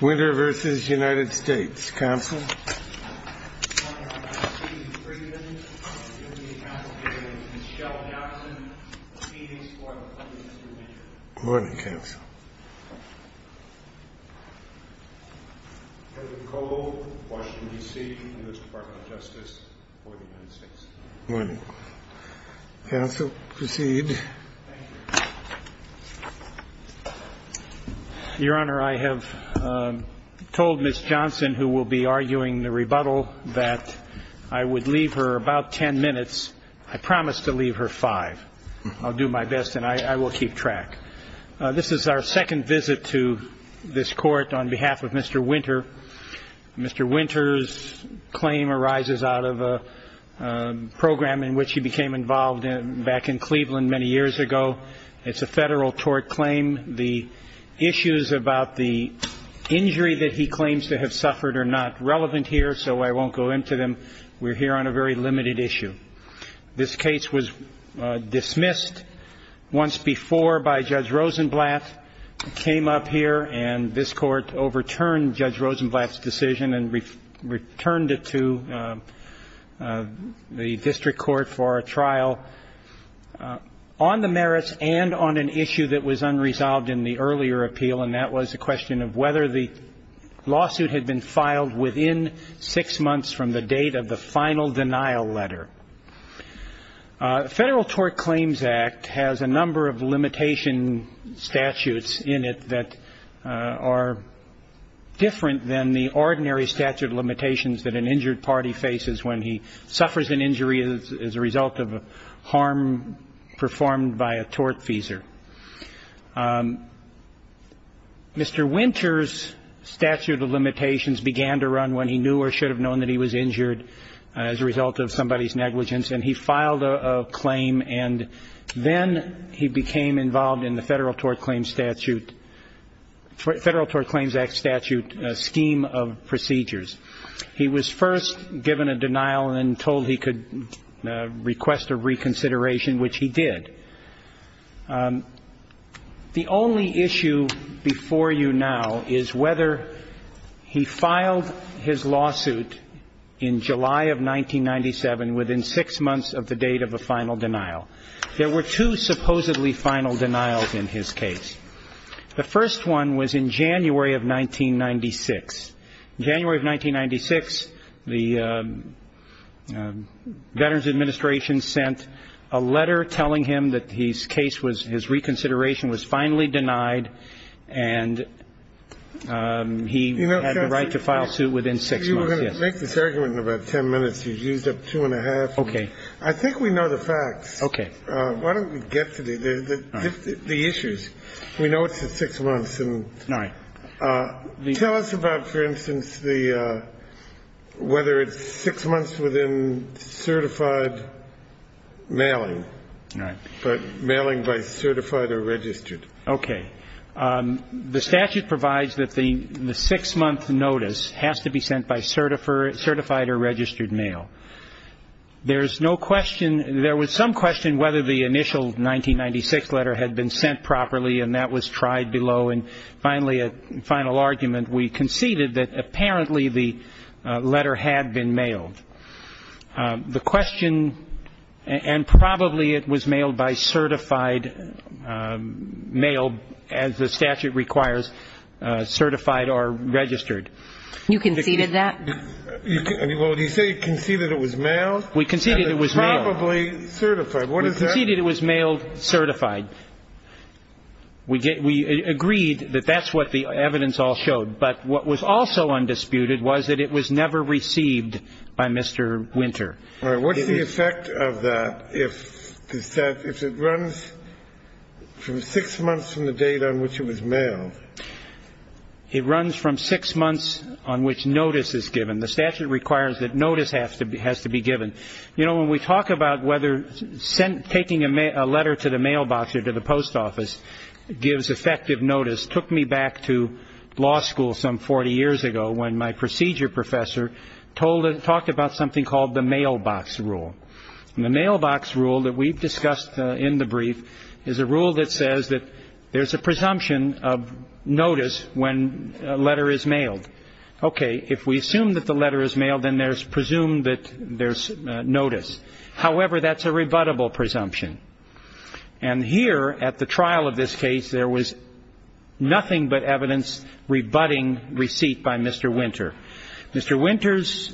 Winter v. United States Counsel Morning, Counsel. Morning, Counsel. Morning, Counsel. Morning, Counsel. Morning, Counsel. Morning, Counsel. Morning. Counsel, proceed. Your Honor, I have told Ms. Johnson, who will be arguing the rebuttal, that I would leave her about 10 minutes. I promise to leave her 5. I'll do my best, and I will keep track. This is our second visit to this Court on behalf of Mr. Winter. Mr. Winter's claim arises out of a program in which he became involved back in Cleveland many years ago. It's a Federal tort claim. The issues about the injury that he claims to have suffered are not relevant here, so I won't go into them. We're here on a very limited issue. This case was dismissed once before by Judge Rosenblatt, came up here, and this Court overturned Judge Rosenblatt's decision and returned it to the District Court for a trial. On the merits and on an issue that was unresolved in the earlier appeal, and that was the question of whether the lawsuit had been filed within six months from the date of the final denial letter. The Federal Tort Claims Act has a number of limitation statutes in it that are different than the ordinary statute of limitations that an injured party faces when he suffers an injury as a result of harm performed by a tort feeser. Mr. Winter's statute of limitations began to run when he knew or should have known that he was injured as a result of somebody's negligence, and he filed a claim, and then he became involved in the Federal Tort Claims Statute, Federal Tort Claims Act statute scheme of procedures. He was first given a denial and then told he could request a reconsideration, which he did. The only issue before you now is whether he filed his lawsuit in July of 1997 within six months of the date of a final denial. There were two supposedly final denials in his case. The first one was in January of 1996. In January of 1996, the Veterans Administration sent a letter telling him that his case was his reconsideration was finally denied, and he had the right to file suit within six months. You were going to make this argument in about ten minutes. You used up two and a half. Okay. I think we know the facts. Okay. Why don't we get to the issues? We know it's in six months. All right. Tell us about, for instance, whether it's six months within certified mailing. All right. But mailing by certified or registered. Okay. The statute provides that the six-month notice has to be sent by certified or registered mail. There's no question. There was some question whether the initial 1996 letter had been sent properly, and that was tried below. And finally, a final argument, we conceded that apparently the letter had been mailed. The question, and probably it was mailed by certified mail, as the statute requires, certified or registered. You conceded that? Well, did you say you conceded it was mailed? We conceded it was mailed. And it's probably certified. What is that? We conceded it was mailed certified. We agreed that that's what the evidence all showed. But what was also undisputed was that it was never received by Mr. Winter. All right. What's the effect of that if it runs from six months from the date on which it was mailed? It runs from six months on which notice is given. The statute requires that notice has to be given. You know, when we talk about whether taking a letter to the mailbox or to the post office gives effective notice, it took me back to law school some 40 years ago when my procedure professor talked about something called the mailbox rule. And the mailbox rule that we've discussed in the brief is a rule that says that there's a presumption of notice when a letter is mailed. Okay. If we assume that the letter is mailed, then there's presumed that there's notice. However, that's a rebuttable presumption. And here at the trial of this case, there was nothing but evidence rebutting receipt by Mr. Winter. Mr. Winter's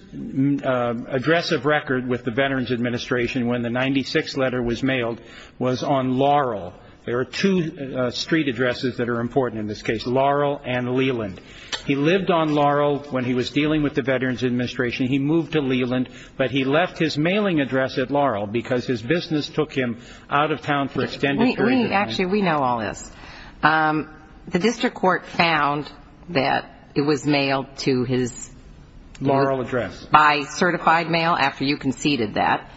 address of record with the Veterans Administration when the 96th letter was mailed was on Laurel. There are two street addresses that are important in this case, Laurel and Leland. He lived on Laurel when he was dealing with the Veterans Administration. He moved to Leland, but he left his mailing address at Laurel because his business took him out of town for extended periods. Actually, we know all this. The district court found that it was mailed to his Laurel address by certified mail after you conceded that.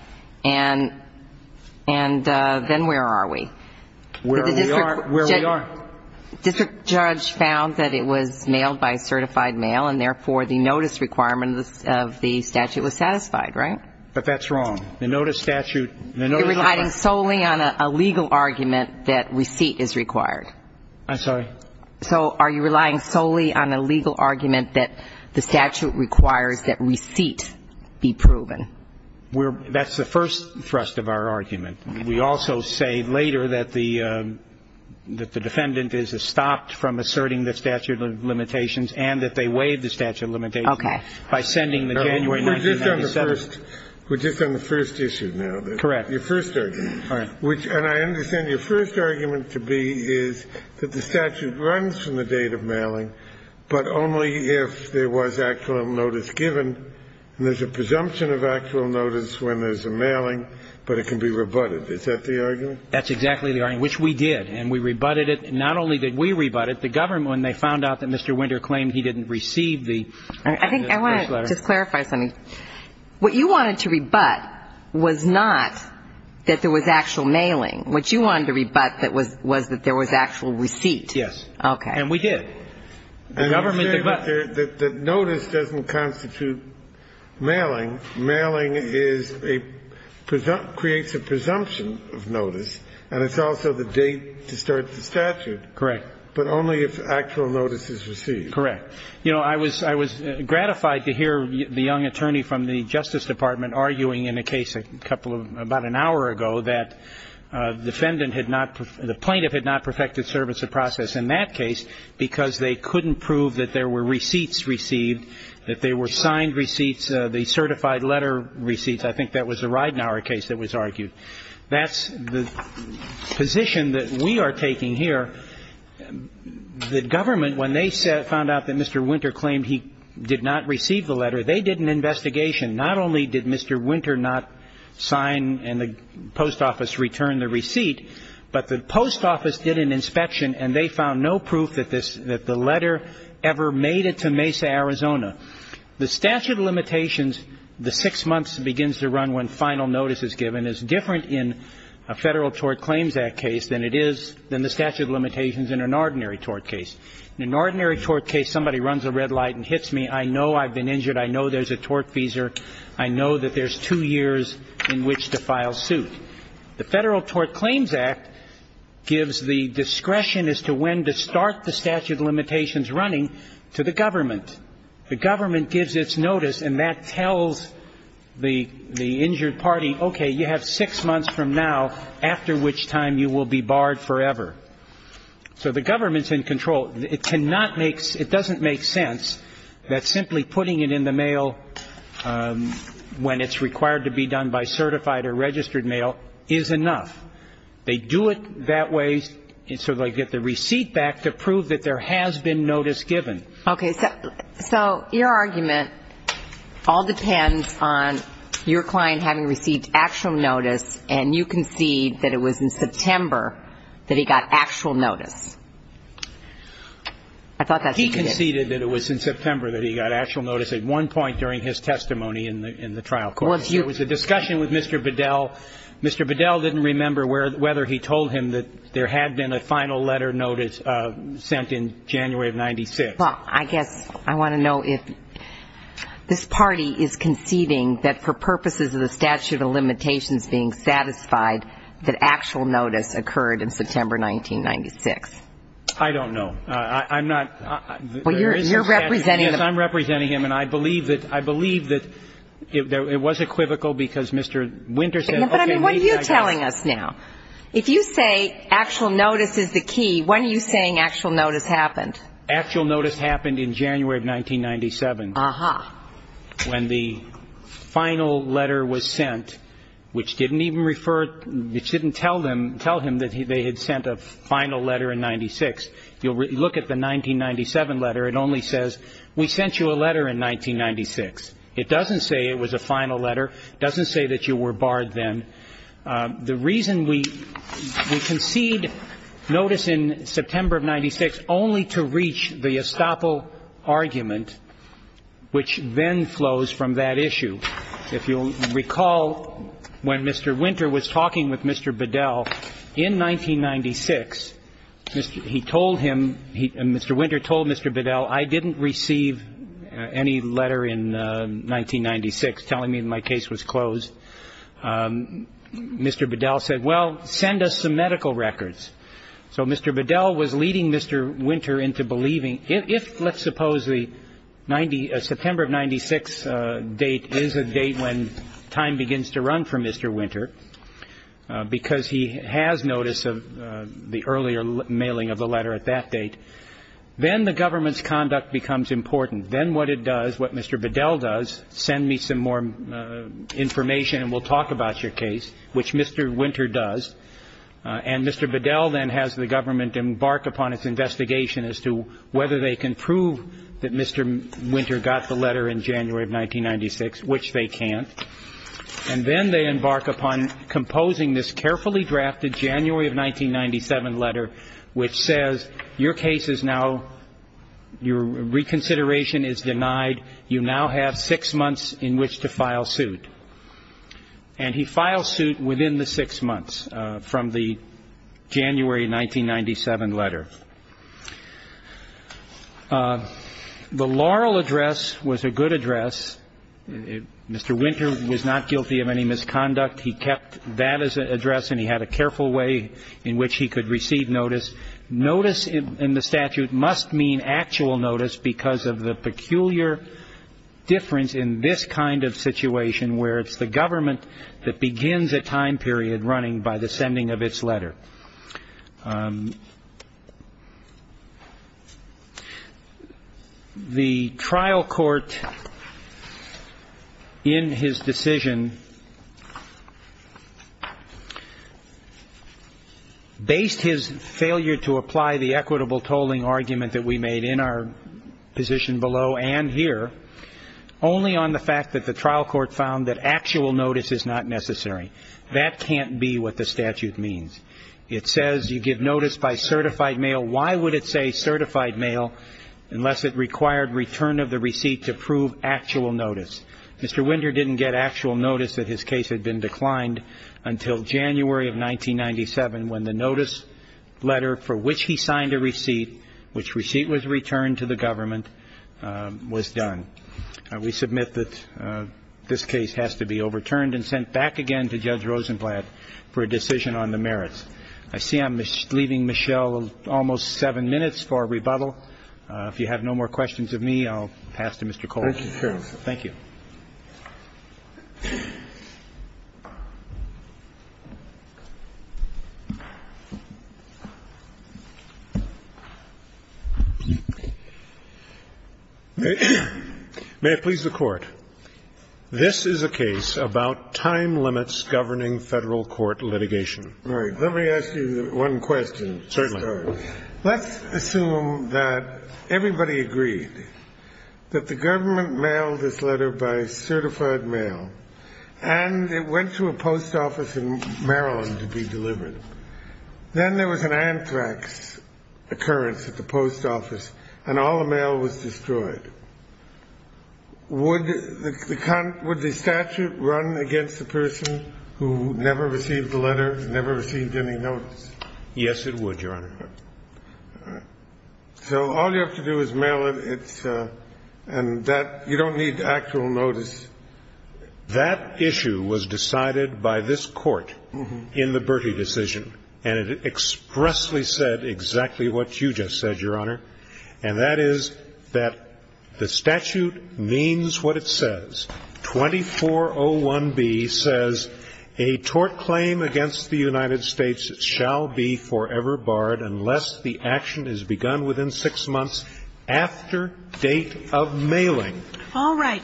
And then where are we? Where we are. District judge found that it was mailed by certified mail, and therefore the notice requirement of the statute was satisfied, right? But that's wrong. The notice statute. You're relying solely on a legal argument that receipt is required. I'm sorry? So are you relying solely on a legal argument that the statute requires that receipt be proven? That's the first thrust of our argument. We also say later that the defendant is stopped from asserting the statute of limitations and that they waive the statute of limitations by sending the January 1997. We're just on the first issue now. Correct. Your first argument. All right. And I understand your first argument to be is that the statute runs from the date of mailing, but only if there was actual notice given. And there's a presumption of actual notice when there's a mailing, but it can be rebutted. Is that the argument? That's exactly the argument, which we did. And we rebutted it. Not only did we rebut it, the government, when they found out that Mr. Winter claimed he didn't receive the letter. I think I want to just clarify something. What you wanted to rebut was not that there was actual mailing. What you wanted to rebut was that there was actual receipt. Yes. Okay. And we did. The government rebutted it. Notice doesn't constitute mailing. Mailing is a presumption, creates a presumption of notice, and it's also the date to start the statute. Correct. But only if actual notice is received. Correct. You know, I was gratified to hear the young attorney from the Justice Department arguing in a case about an hour ago that the plaintiff had not perfected service of process in that case because they couldn't prove that there were receipts received, that they were signed receipts, the certified letter receipts. I think that was the Ridenour case that was argued. That's the position that we are taking here. The government, when they found out that Mr. Winter claimed he did not receive the letter, they did an investigation. Not only did Mr. Winter not sign and the post office return the receipt, but the post office did an inspection and they found no proof that the letter ever made it to Mesa, Arizona. The statute of limitations, the six months begins to run when final notice is given, and it's different in a Federal Tort Claims Act case than it is, than the statute of limitations in an ordinary tort case. In an ordinary tort case, somebody runs a red light and hits me. I know I've been injured. I know there's a tort feeser. I know that there's two years in which to file suit. The Federal Tort Claims Act gives the discretion as to when to start the statute of limitations running to the government. The government gives its notice and that tells the injured party, okay, you have six months from now after which time you will be barred forever. So the government's in control. It cannot make – it doesn't make sense that simply putting it in the mail when it's required to be done by certified or registered mail is enough. They do it that way so they get the receipt back to prove that there has been notice given. Okay. So your argument all depends on your client having received actual notice and you concede that it was in September that he got actual notice. I thought that's what you did. He conceded that it was in September that he got actual notice at one point during his testimony in the trial court. It was a discussion with Mr. Bedell. Mr. Bedell didn't remember whether he told him that there had been a final letter notice sent in January of 1996. Well, I guess I want to know if this party is conceding that for purposes of the statute of limitations being satisfied that actual notice occurred in September 1996. I don't know. I'm not – Well, you're representing him. Yes, I'm representing him. And I believe that – I believe that it was equivocal because Mr. Winter said, okay, maybe I guess – But, I mean, what are you telling us now? If you say actual notice is the key, when are you saying actual notice happened? Actual notice happened in January of 1997. Uh-huh. When the final letter was sent, which didn't even refer – which didn't tell him that they had sent a final letter in 96. You'll look at the 1997 letter. It only says, we sent you a letter in 1996. It doesn't say it was a final letter. It doesn't say that you were barred then. The reason we concede notice in September of 96 only to reach the estoppel argument, which then flows from that issue. If you'll recall, when Mr. Winter was talking with Mr. Bedell in 1996, he told him – Mr. Winter told Mr. Bedell, I didn't receive any letter in 1996 telling me my case was closed. Mr. Bedell said, well, send us some medical records. So Mr. Bedell was leading Mr. Winter into believing – if, let's suppose, the September of 96 date is a date when time begins to run for Mr. Winter, because he has notice of the earlier mailing of the letter at that date, then the government's conduct becomes important. Then what it does, what Mr. Bedell does, send me some more information and we'll talk about your case, which Mr. Winter does. And Mr. Bedell then has the government embark upon its investigation as to whether they can prove that Mr. Winter got the letter in January of 1996, which they can't. And then they embark upon composing this carefully drafted January of 1997 letter, which says your case is now – your reconsideration is denied. You now have six months in which to file suit. And he files suit within the six months from the January 1997 letter. The Laurel address was a good address. Mr. Winter was not guilty of any misconduct. He kept that as an address and he had a careful way in which he could receive notice. Notice in the statute must mean actual notice because of the peculiar difference in this kind of situation, where it's the government that begins a time period running by the sending of its letter. The trial court in his decision based his failure to apply the equitable tolling argument that we made in our position below and here only on the fact that the trial court found that actual notice is not necessary. That can't be what the statute means. It says you give notice by certified mail. Why would it say certified mail unless it required return of the receipt to prove actual notice? Mr. Winter didn't get actual notice that his case had been declined until January of 1997, when the notice letter for which he signed a receipt, which receipt was returned to the government, was done. We submit that this case has to be overturned and sent back again to Judge Rosenblatt for a decision on the merits. I see I'm leaving Michelle almost seven minutes for rebuttal. If you have no more questions of me, I'll pass to Mr. Cole. Thank you. May it please the Court. This is a case about time limits governing Federal court litigation. All right. Let me ask you one question. Certainly. Let's assume that everybody agreed that the government mailed this letter by certified mail and it went to a post office in Maryland to be delivered. Then there was an anthrax occurrence at the post office and all the mail was destroyed. Would the statute run against the person who never received the letter, never received any notice? Yes, it would, Your Honor. All right. So all you have to do is mail it and you don't need actual notice. That issue was decided by this Court in the Bertie decision, and it expressly said exactly what you just said, Your Honor, and that is that the statute means what it says. All right,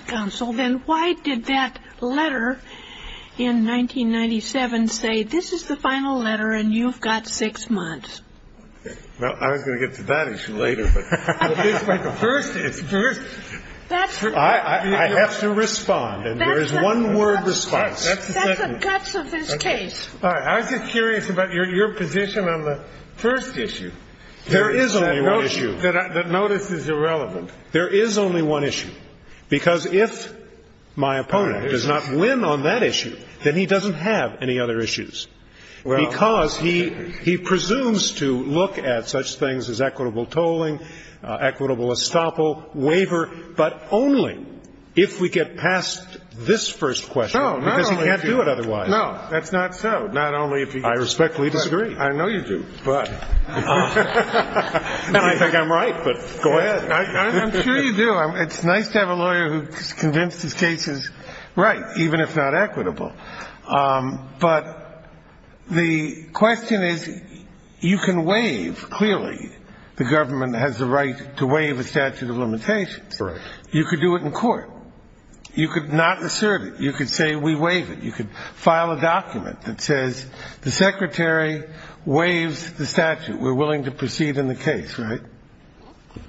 counsel. Then why did that letter in 1997 say, this is the final letter and you've got six months? Well, I was going to get to that issue later. But first, it's first. I have to risk my life. I have to risk my life. That's the guts of his case. All right. I was just curious about your position on the first issue. There is only one issue. That notice is irrelevant. There is only one issue. Because if my opponent does not win on that issue, then he doesn't have any other issues. Because he presumes to look at such things as equitable tolling, equitable estoppel, waiver, but only if we get past this first question, because he can't do it otherwise. No. That's not so. I respectfully disagree. I know you do. You think I'm right, but go ahead. I'm sure you do. It's nice to have a lawyer who convinces cases right, even if not equitable. But the question is, you can waive, clearly, the government has the right to waive a statute of limitations. You could do it in court. You could not assert it. You could say we waive it. You could file a document that says the secretary waives the statute. We're willing to proceed in the case, right?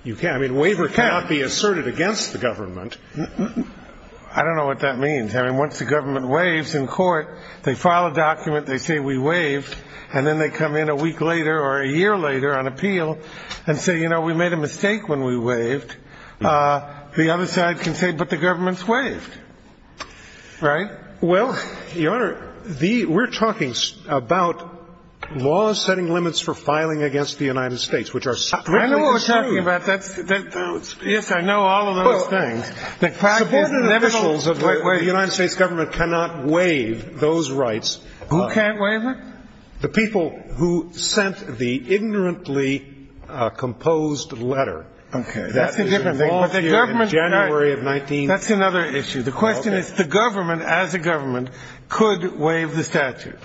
You can't. I mean, waiver cannot be asserted against the government. I don't know what that means. I mean, once the government waives in court, they file a document, they say we waived, and then they come in a week later or a year later on appeal and say, you know, we made a mistake when we waived. The other side can say, but the government's waived. Right? Well, Your Honor, we're talking about laws setting limits for filing against the United States, which are strictly true. I know what we're talking about. Yes, I know all of those things. The United States government cannot waive those rights. Who can't waive it? The people who sent the ignorantly composed letter. Okay. That's another issue. The question is, the government as a government could waive the statute.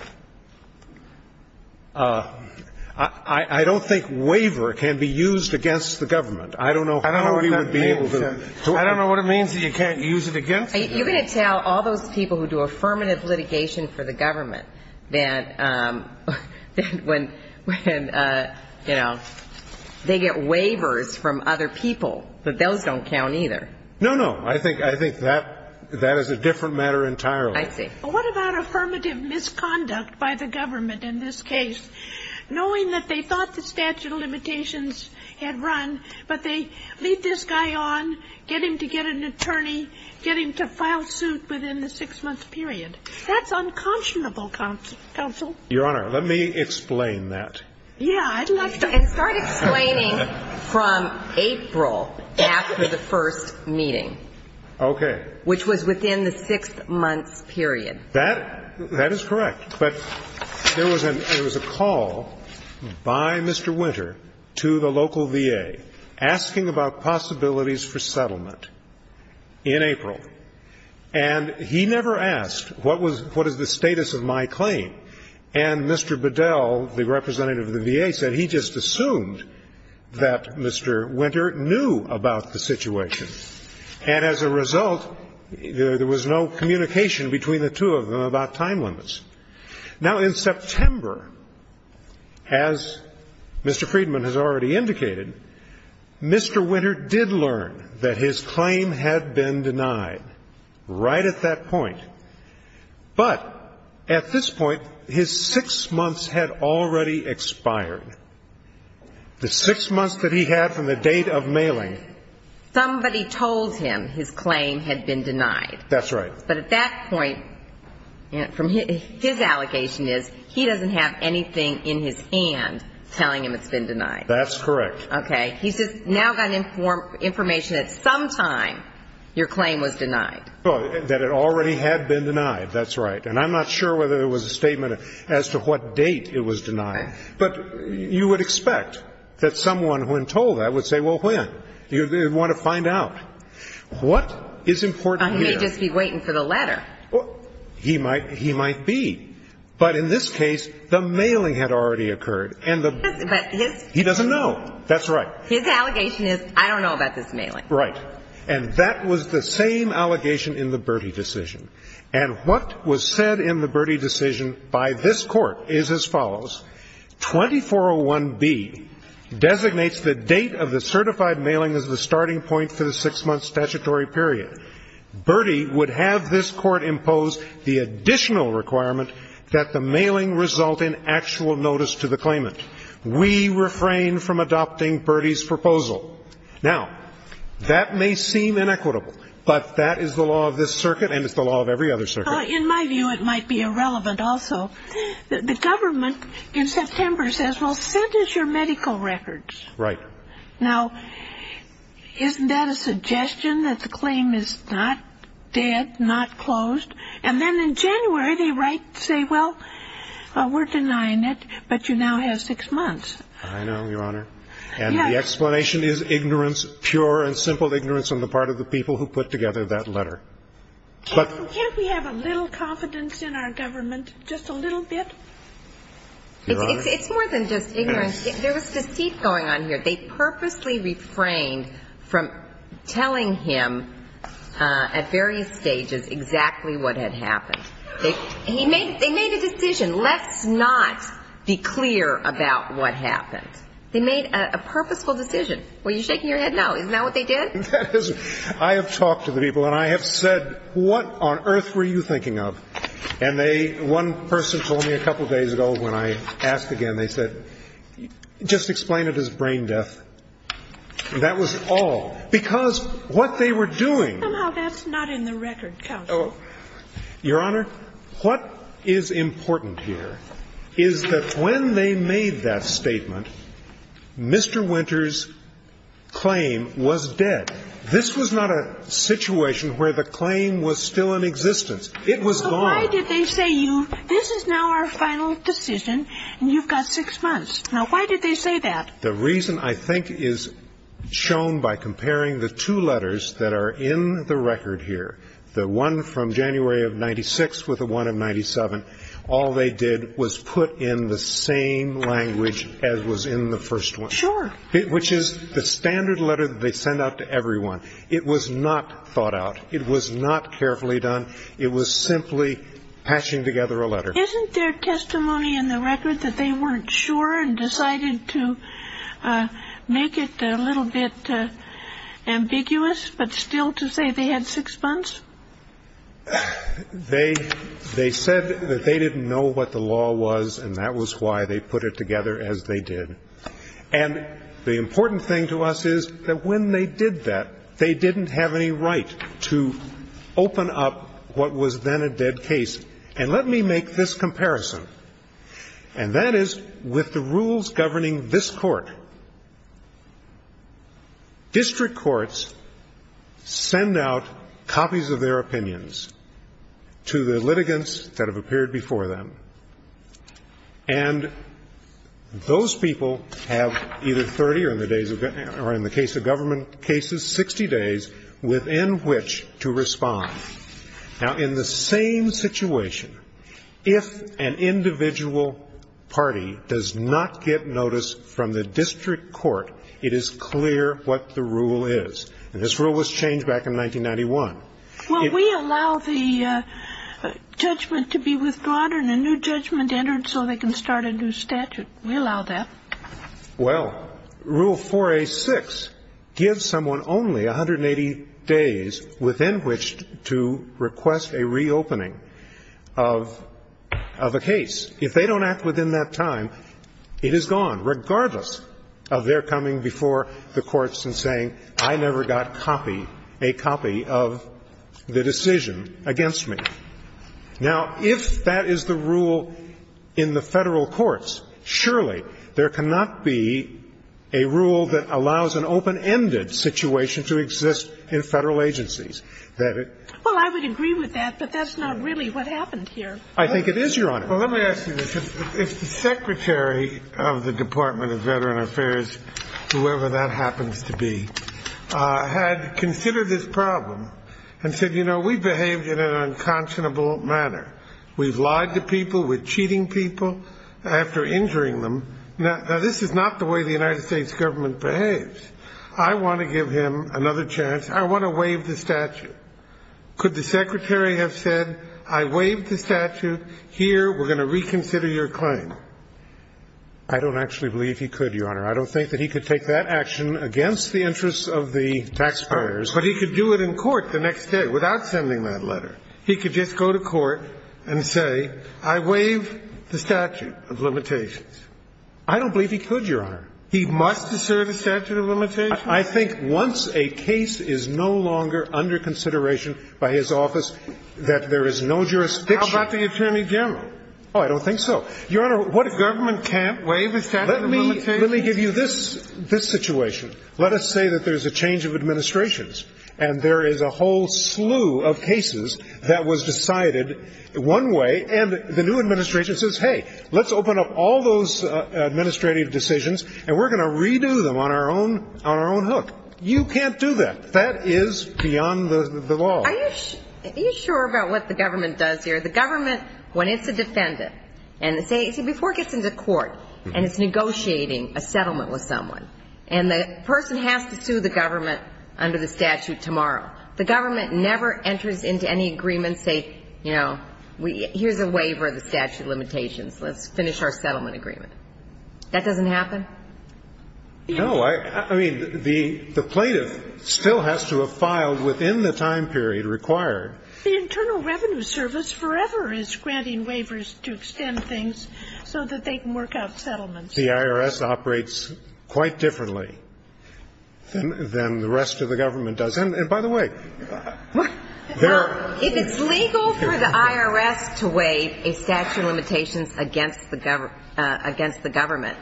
I don't think waiver can be used against the government. I don't know how we would be able to. I don't know what it means that you can't use it against the government. You're going to tell all those people who do affirmative litigation for the government that when, you know, they get waivers from other people, that those don't count either. No, no. I think that is a different matter entirely. I see. What about affirmative misconduct by the government in this case, knowing that they thought the statute of limitations had run, but they leave this guy on, get him to get an attorney, get him to file suit within the six-month period? That's unconscionable, counsel. Your Honor, let me explain that. Yeah, I'd like to. And start explaining from April after the first meeting. Okay. Which was within the six-month period. That is correct. But there was a call by Mr. Winter to the local VA asking about possibilities for settlement in April. And he never asked, what is the status of my claim? And Mr. Bedell, the representative of the VA, said he just assumed that Mr. Winter knew about the situation. And as a result, there was no communication between the two of them about time limits. Now, in September, as Mr. Friedman has already indicated, Mr. Winter did learn that his claim had been denied right at that point. But at this point, his six months had already expired. The six months that he had from the date of mailing. Somebody told him his claim had been denied. That's right. But at that point, his allegation is he doesn't have anything in his hand telling him it's been denied. That's correct. Okay. He's just now got information that sometime your claim was denied. That it already had been denied. That's right. And I'm not sure whether there was a statement as to what date it was denied. But you would expect that someone, when told that, would say, well, when? You want to find out. What is important here? He may just be waiting for the letter. He might be. But in this case, the mailing had already occurred. He doesn't know. That's right. His allegation is, I don't know about this mailing. Right. And that was the same allegation in the Bertie decision. And what was said in the Bertie decision by this Court is as follows. 2401B designates the date of the certified mailing as the starting point for the six-month statutory period. Bertie would have this Court impose the additional requirement that the mailing result in actual notice to the claimant. We refrain from adopting Bertie's proposal. Now, that may seem inequitable. But that is the law of this circuit, and it's the law of every other circuit. In my view, it might be irrelevant also. The government in September says, well, send us your medical records. Right. Now, isn't that a suggestion that the claim is not dead, not closed? And then in January they say, well, we're denying it, but you now have six months. I know, Your Honor. And the explanation is ignorance, pure and simple ignorance on the part of the people who put together that letter. Can't we have a little confidence in our government, just a little bit? Your Honor? It's more than just ignorance. There was deceit going on here. They purposely refrained from telling him at various stages exactly what had happened. They made a decision, let's not be clear about what happened. They made a purposeful decision. Were you shaking your head no? Isn't that what they did? I have talked to the people, and I have said, what on earth were you thinking of? And they one person told me a couple days ago when I asked again, they said, just explain it as brain death. That was all. Because what they were doing. Somehow that's not in the record, counsel. Your Honor, what is important here is that when they made that statement, Mr. Winter's claim was dead. This was not a situation where the claim was still in existence. It was gone. So why did they say, this is now our final decision, and you've got six months. Now why did they say that? The reason I think is shown by comparing the two letters that are in the record here. The one from January of 96 with the one of 97. All they did was put in the same language as was in the first one. Sure. Which is the standard letter that they send out to everyone. It was not thought out. It was not carefully done. It was simply patching together a letter. Isn't there testimony in the record that they weren't sure and decided to make it a little bit ambiguous, but still to say they had six months? They said that they didn't know what the law was, and that was why they put it together as they did. And the important thing to us is that when they did that, they didn't have any right to open up what was then a dead case. And let me make this comparison, and that is with the rules governing this Court. District courts send out copies of their opinions to the litigants that have appeared before them. And those people have either 30 or, in the case of government cases, 60 days within which to respond. Now, in the same situation, if an individual party does not get notice from the district court, it is clear what the rule is. And this rule was changed back in 1991. Well, we allow the judgment to be withdrawn and a new judgment entered so they can start a new statute. We allow that. Well, Rule 4A.6 gives someone only 180 days within which to request a reopening of a case. If they don't act within that time, it is gone, regardless of their coming before the courts and saying, I never got a copy of the decision against me. Now, if that is the rule in the Federal courts, surely there cannot be a rule that allows an open-ended situation to exist in Federal agencies. Well, I would agree with that, but that's not really what happened here. I think it is, Your Honor. Well, let me ask you this. If the Secretary of the Department of Veteran Affairs, whoever that happens to be, had considered this problem and said, you know, we behaved in an unconscionable manner. We've lied to people. We're cheating people after injuring them. Now, this is not the way the United States government behaves. I want to give him another chance. I want to waive the statute. Could the Secretary have said, I waived the statute. Here, we're going to reconsider your claim? I don't actually believe he could, Your Honor. I don't think that he could take that action against the interests of the taxpayers. But he could do it in court the next day without sending that letter. He could just go to court and say, I waived the statute of limitations. I don't believe he could, Your Honor. He must assert a statute of limitations? I think once a case is no longer under consideration by his office that there is no jurisdiction. How about the Attorney General? Oh, I don't think so. Your Honor, what if government can't waive a statute of limitations? Let me give you this situation. Let us say that there's a change of administrations and there is a whole slew of cases that was decided one way, and the new administration says, hey, let's open up all those administrative decisions and we're going to redo them on our own hook. You can't do that. That is beyond the law. Are you sure about what the government does here? The government, when it's a defendant, and say, before it gets into court and it's negotiating a settlement with someone, and the person has to sue the government under the statute tomorrow, the government never enters into any agreement and says, you know, here's a waiver of the statute of limitations. Let's finish our settlement agreement. That doesn't happen? No. I mean, the plaintiff still has to have filed within the time period required. The Internal Revenue Service forever is granting waivers to extend things so that they can work out settlements. The IRS operates quite differently than the rest of the government does. And, by the way, there are – Well, if it's legal for the IRS to waive a statute of limitations against the government,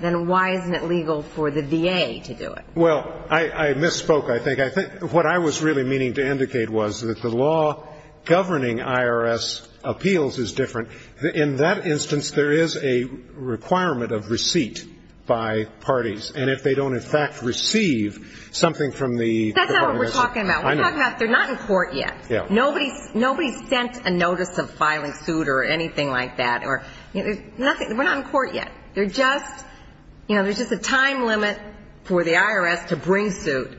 then why isn't it legal for the VA to do it? Well, I misspoke, I think. What I was really meaning to indicate was that the law governing IRS appeals is different. In that instance, there is a requirement of receipt by parties. And if they don't, in fact, receive something from the – That's not what we're talking about. We're talking about they're not in court yet. Nobody sent a notice of filing suit or anything like that. We're not in court yet. They're just – you know, there's just a time limit for the IRS to bring suit.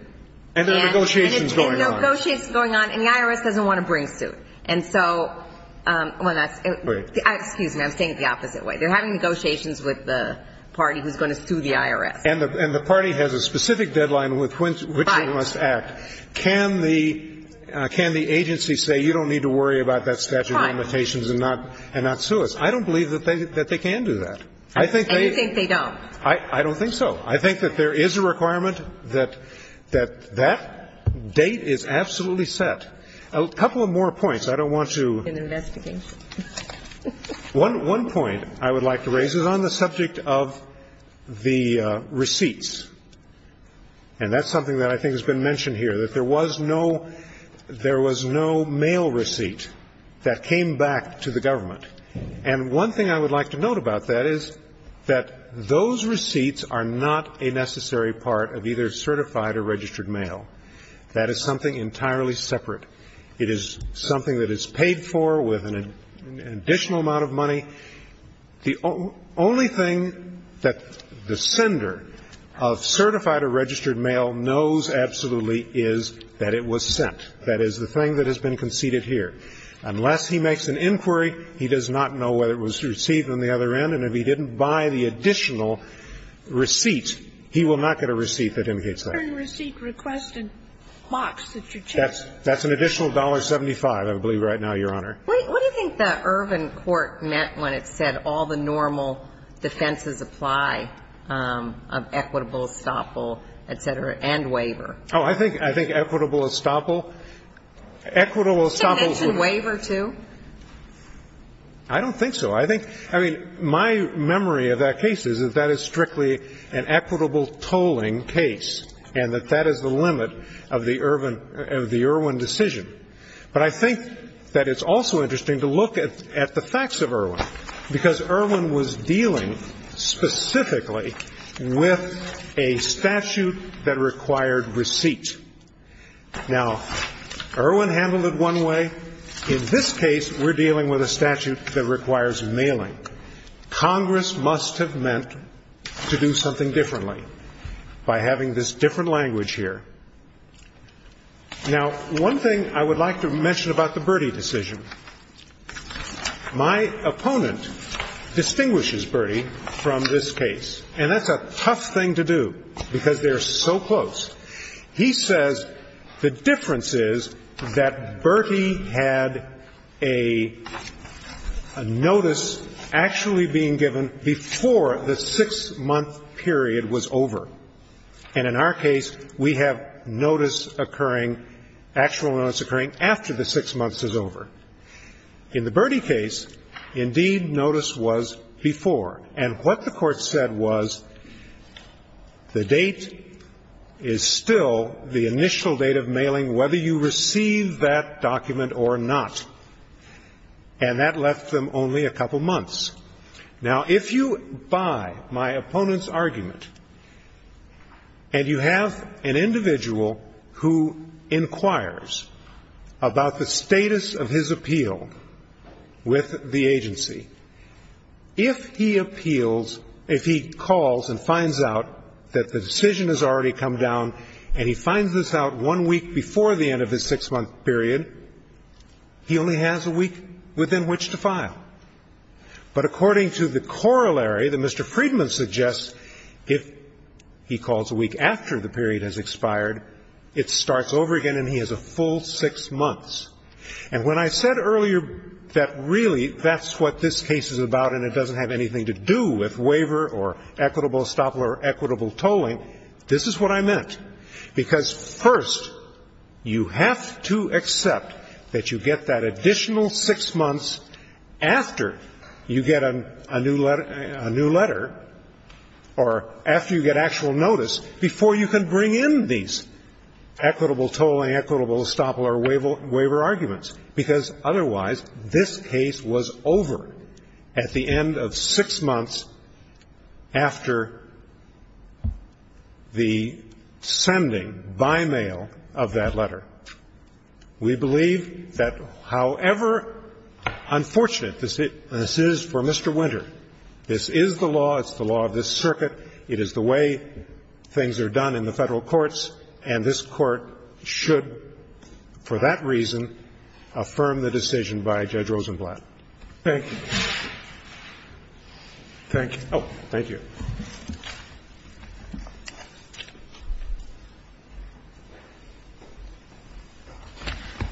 And there are negotiations going on. Negotiations going on. And the IRS doesn't want to bring suit. And so – well, that's – excuse me. I'm saying it the opposite way. They're having negotiations with the party who's going to sue the IRS. And the party has a specific deadline with which it must act. Can the – can the agency say you don't need to worry about that statute of limitations and not sue us? I don't believe that they can do that. And you think they don't? I don't think so. I think that there is a requirement that that date is absolutely set. A couple of more points. I don't want to – An investigation. One point I would like to raise is on the subject of the receipts. And that's something that I think has been mentioned here, that there was no – there was no mail receipt that came back to the government. And one thing I would like to note about that is that those receipts are not a necessary part of either certified or registered mail. That is something entirely separate. It is something that is paid for with an additional amount of money. The only thing that the sender of certified or registered mail knows absolutely is that it was sent. That is the thing that has been conceded here. Unless he makes an inquiry, he does not know whether it was received on the other end. And if he didn't buy the additional receipt, he will not get a receipt that indicates that. Sotomayor's receipt request and box that you checked. That's an additional $1.75, I believe, right now, Your Honor. What do you think the Irvin court meant when it said all the normal defenses apply of equitable estoppel, et cetera, and waiver? Oh, I think equitable estoppel. Equitable estoppel. Did it mention waiver, too? I don't think so. I think, I mean, my memory of that case is that that is strictly an equitable tolling case and that that is the limit of the Irvin, of the Irvin decision. But I think that it's also interesting to look at the facts of Irvin, because Irvin was dealing specifically with a statute that required receipt. Now, Irvin handled it one way. In this case, we're dealing with a statute that requires mailing. Congress must have meant to do something differently by having this different language here. Now, one thing I would like to mention about the Bertie decision. My opponent distinguishes Bertie from this case, and that's a tough thing to do, because they're so close. He says the difference is that Bertie had a notice actually being given before the six-month period was over. And in our case, we have notice occurring, actual notice occurring after the six months is over. In the Bertie case, indeed, notice was before. And what the Court said was the date is still the initial date of mailing, whether you receive that document or not. And that left them only a couple months. Now, if you buy my opponent's argument and you have an individual who inquires about the status of his appeal with the agency, if he appeals, if he calls and finds out that the decision has already come down and he finds this out one week before the end of his six-month period, he only has a week within which to file. But according to the corollary that Mr. Friedman suggests, if he calls a week after the end of the period has expired, it starts over again and he has a full six months. And when I said earlier that really that's what this case is about and it doesn't have anything to do with waiver or equitable estoppel or equitable tolling, this is what I meant. Because, first, you have to accept that you get that additional six months after you get a new letter or after you get actual notice before you can bring in these equitable tolling, equitable estoppel or waiver arguments, because otherwise this case was over at the end of six months after the sending by mail of that letter. We believe that however unfortunate this is for Mr. Winter, this is the law, it's the law of this circuit, it is the way things are done in the Federal courts, and this Court should, for that reason, affirm the decision by Judge Rosenblatt. Thank you. Thank you.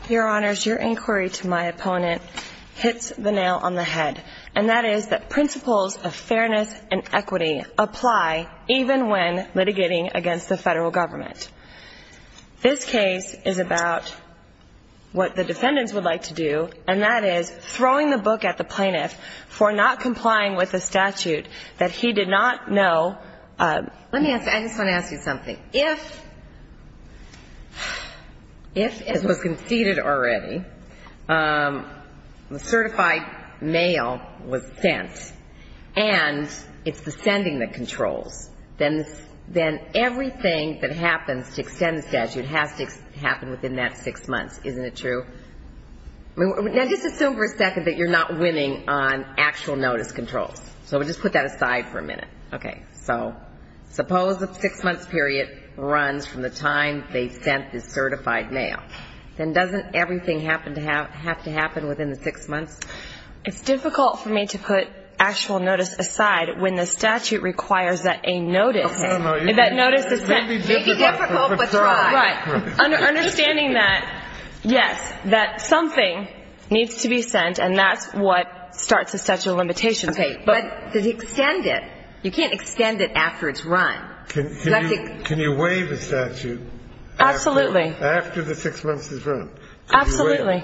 Your Honors, your inquiry to my opponent hits the nail on the head, and that is that principles of fairness and equity apply even when litigating against the Federal government. This case is about what the defendants would like to do, and that is throwing the book at the plaintiff for not complying with the statute that states that he did not know. Let me ask, I just want to ask you something. If it was conceded already, the certified mail was sent, and it's the sending that controls, then everything that happens to extend the statute has to happen within that six months, isn't it true? Now, just assume for a second that you're not winning on actual notice controls. So just put that aside for a minute. Okay. So suppose a six-month period runs from the time they sent the certified mail. Then doesn't everything have to happen within the six months? It's difficult for me to put actual notice aside when the statute requires that a statute be extended. Can you waive a statute after the six months has run? Absolutely.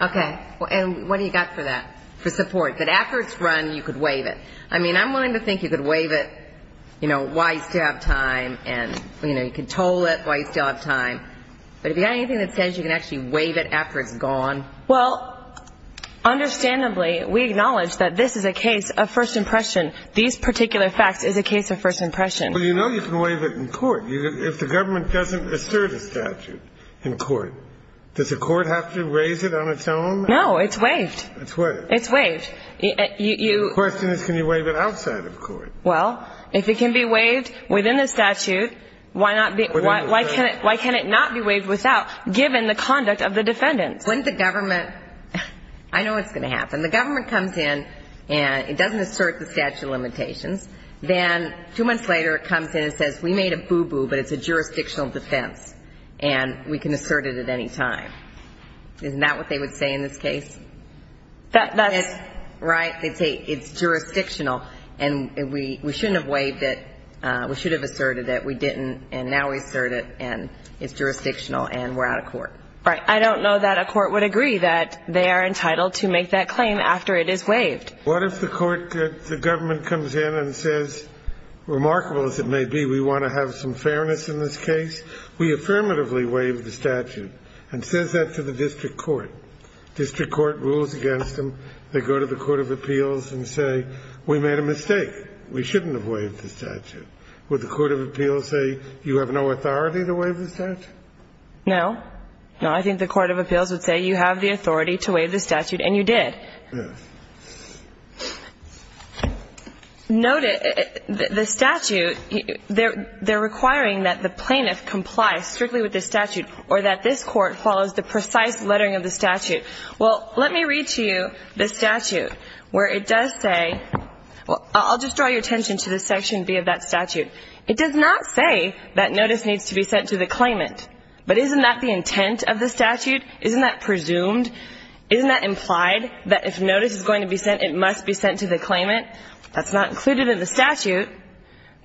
Okay. And what do you got for that, for support? That after it's run, you could waive it. I mean, I'm willing to think you could waive it, you know, while you still have time and, you know, you can toll it while you still have time. But if you got anything that says you can actually waive it after it's gone? Well, understandably, we acknowledge that this is a case of first impression. These particular facts is a case of first impression. Well, you know you can waive it in court. If the government doesn't assert a statute in court, then it's waived. It's waived. The question is can you waive it outside of court? Well, if it can be waived within the statute, why can it not be waived without, given the conduct of the defendants? When the government, I know what's going to happen. The government comes in and it doesn't assert the statute of limitations. Then two months later it comes in and says, we made a boo-boo, but it's a jurisdictional defense and we can assert it at any time. Isn't that what they would say in this case? That's... Right. They'd say it's jurisdictional and we shouldn't have waived it. We should have asserted it. We didn't and now we assert it and it's jurisdictional and we're out of court. Right. I don't know that a court would agree that they are entitled to make that claim after it is waived. What if the court, the government comes in and says, remarkable as it may be, we want to have some fairness in this case. We affirmatively waive the statute and says that to the district court. District court rules against them. They go to the court of appeals and say, we made a mistake. We shouldn't have waived the statute. Would the court of appeals say you have no authority to waive the statute? No. No, I think the court of appeals would say you have the authority to waive the statute and you did. Yeah. The statute, they're requiring that the plaintiff complies strictly with the statute or that this court follows the precise lettering of the statute. Well, let me read to you the statute where it does say, well, I'll just draw your attention to this section B of that statute. It does not say that notice needs to be sent to the claimant, but isn't that the if notice is going to be sent, it must be sent to the claimant. That's not included in the statute,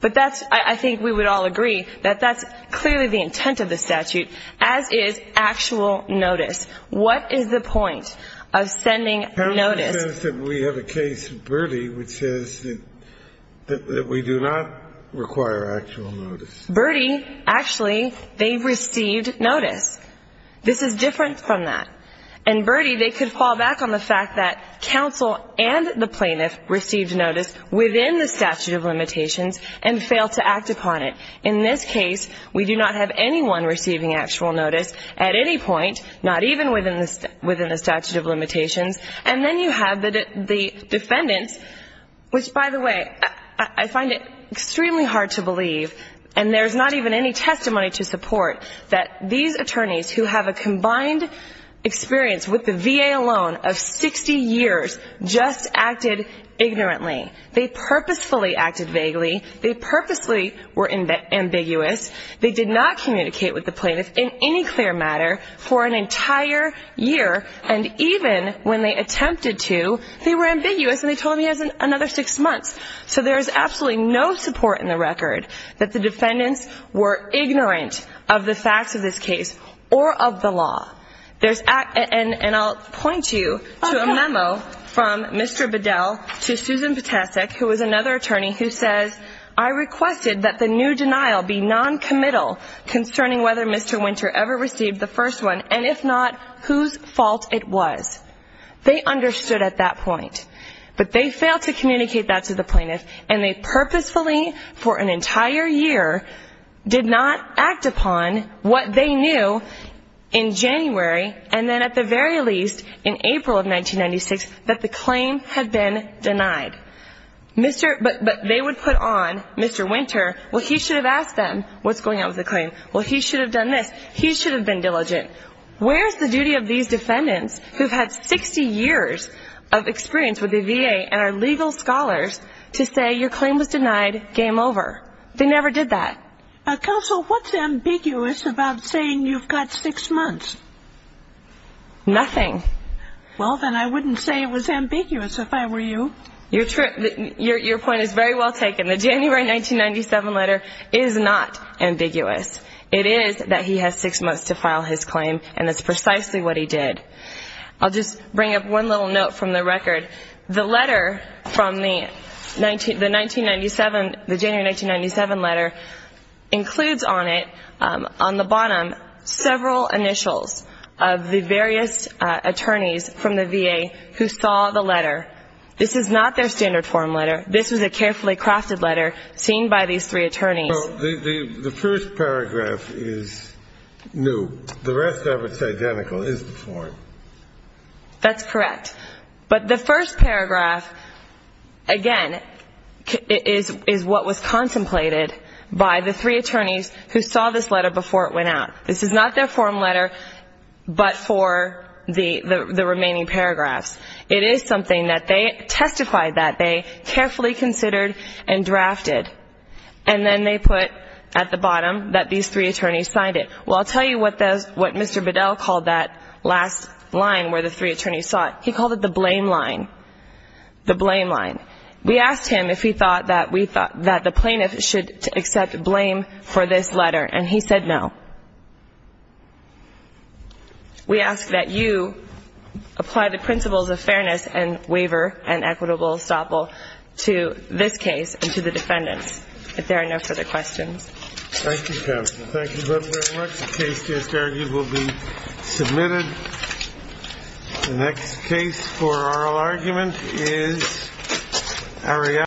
but that's, I think we would all agree that that's clearly the intent of the statute, as is actual notice. What is the point of sending notice? It says that we have a case of Birdie which says that we do not require actual notice. Birdie, actually, they received notice. This is different from that. And Birdie, they could fall back on the fact that counsel and the plaintiff received notice within the statute of limitations and failed to act upon it. In this case, we do not have anyone receiving actual notice at any point, not even within the statute of limitations. And then you have the defendants, which, by the way, I find it extremely hard to believe, and there's not even any testimony to support, that these attorneys who have a combined experience with the VA alone of 60 years just acted ignorantly. They purposefully acted vaguely. They purposefully were ambiguous. They did not communicate with the plaintiff in any clear matter for an entire year, and even when they attempted to, they were ambiguous and they told him he has another six months. So there is absolutely no support in the record that the defendants were ignorant of the facts of this case or of the law. And I'll point you to a memo from Mr. Bedell to Susan Ptacek, who is another attorney, who says, I requested that the new denial be noncommittal concerning whether Mr. Winter ever received the first one, and if not, whose fault it was. They understood at that point. But they failed to communicate that to the plaintiff for an entire year, did not act upon what they knew in January, and then at the very least in April of 1996, that the claim had been denied. But they would put on Mr. Winter, well, he should have asked them what's going on with the claim. Well, he should have done this. He should have been diligent. Where is the duty of these defendants who have had 60 years of experience with the matter? They never did that. Counsel, what's ambiguous about saying you've got six months? Nothing. Well, then I wouldn't say it was ambiguous if I were you. Your point is very well taken. The January 1997 letter is not ambiguous. It is that the 1997, the January 1997 letter includes on it, on the bottom, several initials of the various attorneys from the VA who saw the letter. This is not their standard form letter. This was a carefully crafted letter seen by these three attorneys. The first paragraph is new. The rest of it's identical, is the form. That's correct. But the first paragraph, again, is what was contemplated by the three attorneys who saw this letter before it went out. This is not their form letter, but for the remaining paragraphs. It is something that they testified that they carefully considered and drafted, and then they put at the bottom that these three attorneys signed it. Well, I'll tell you what Mr. Bedell called that last line where the three attorneys saw it. He called it the blame line. The blame line. We asked him if he thought that the plaintiff should accept blame for this letter, and he said no. We ask that you apply the principles of fairness and waiver and equitable estoppel to this case.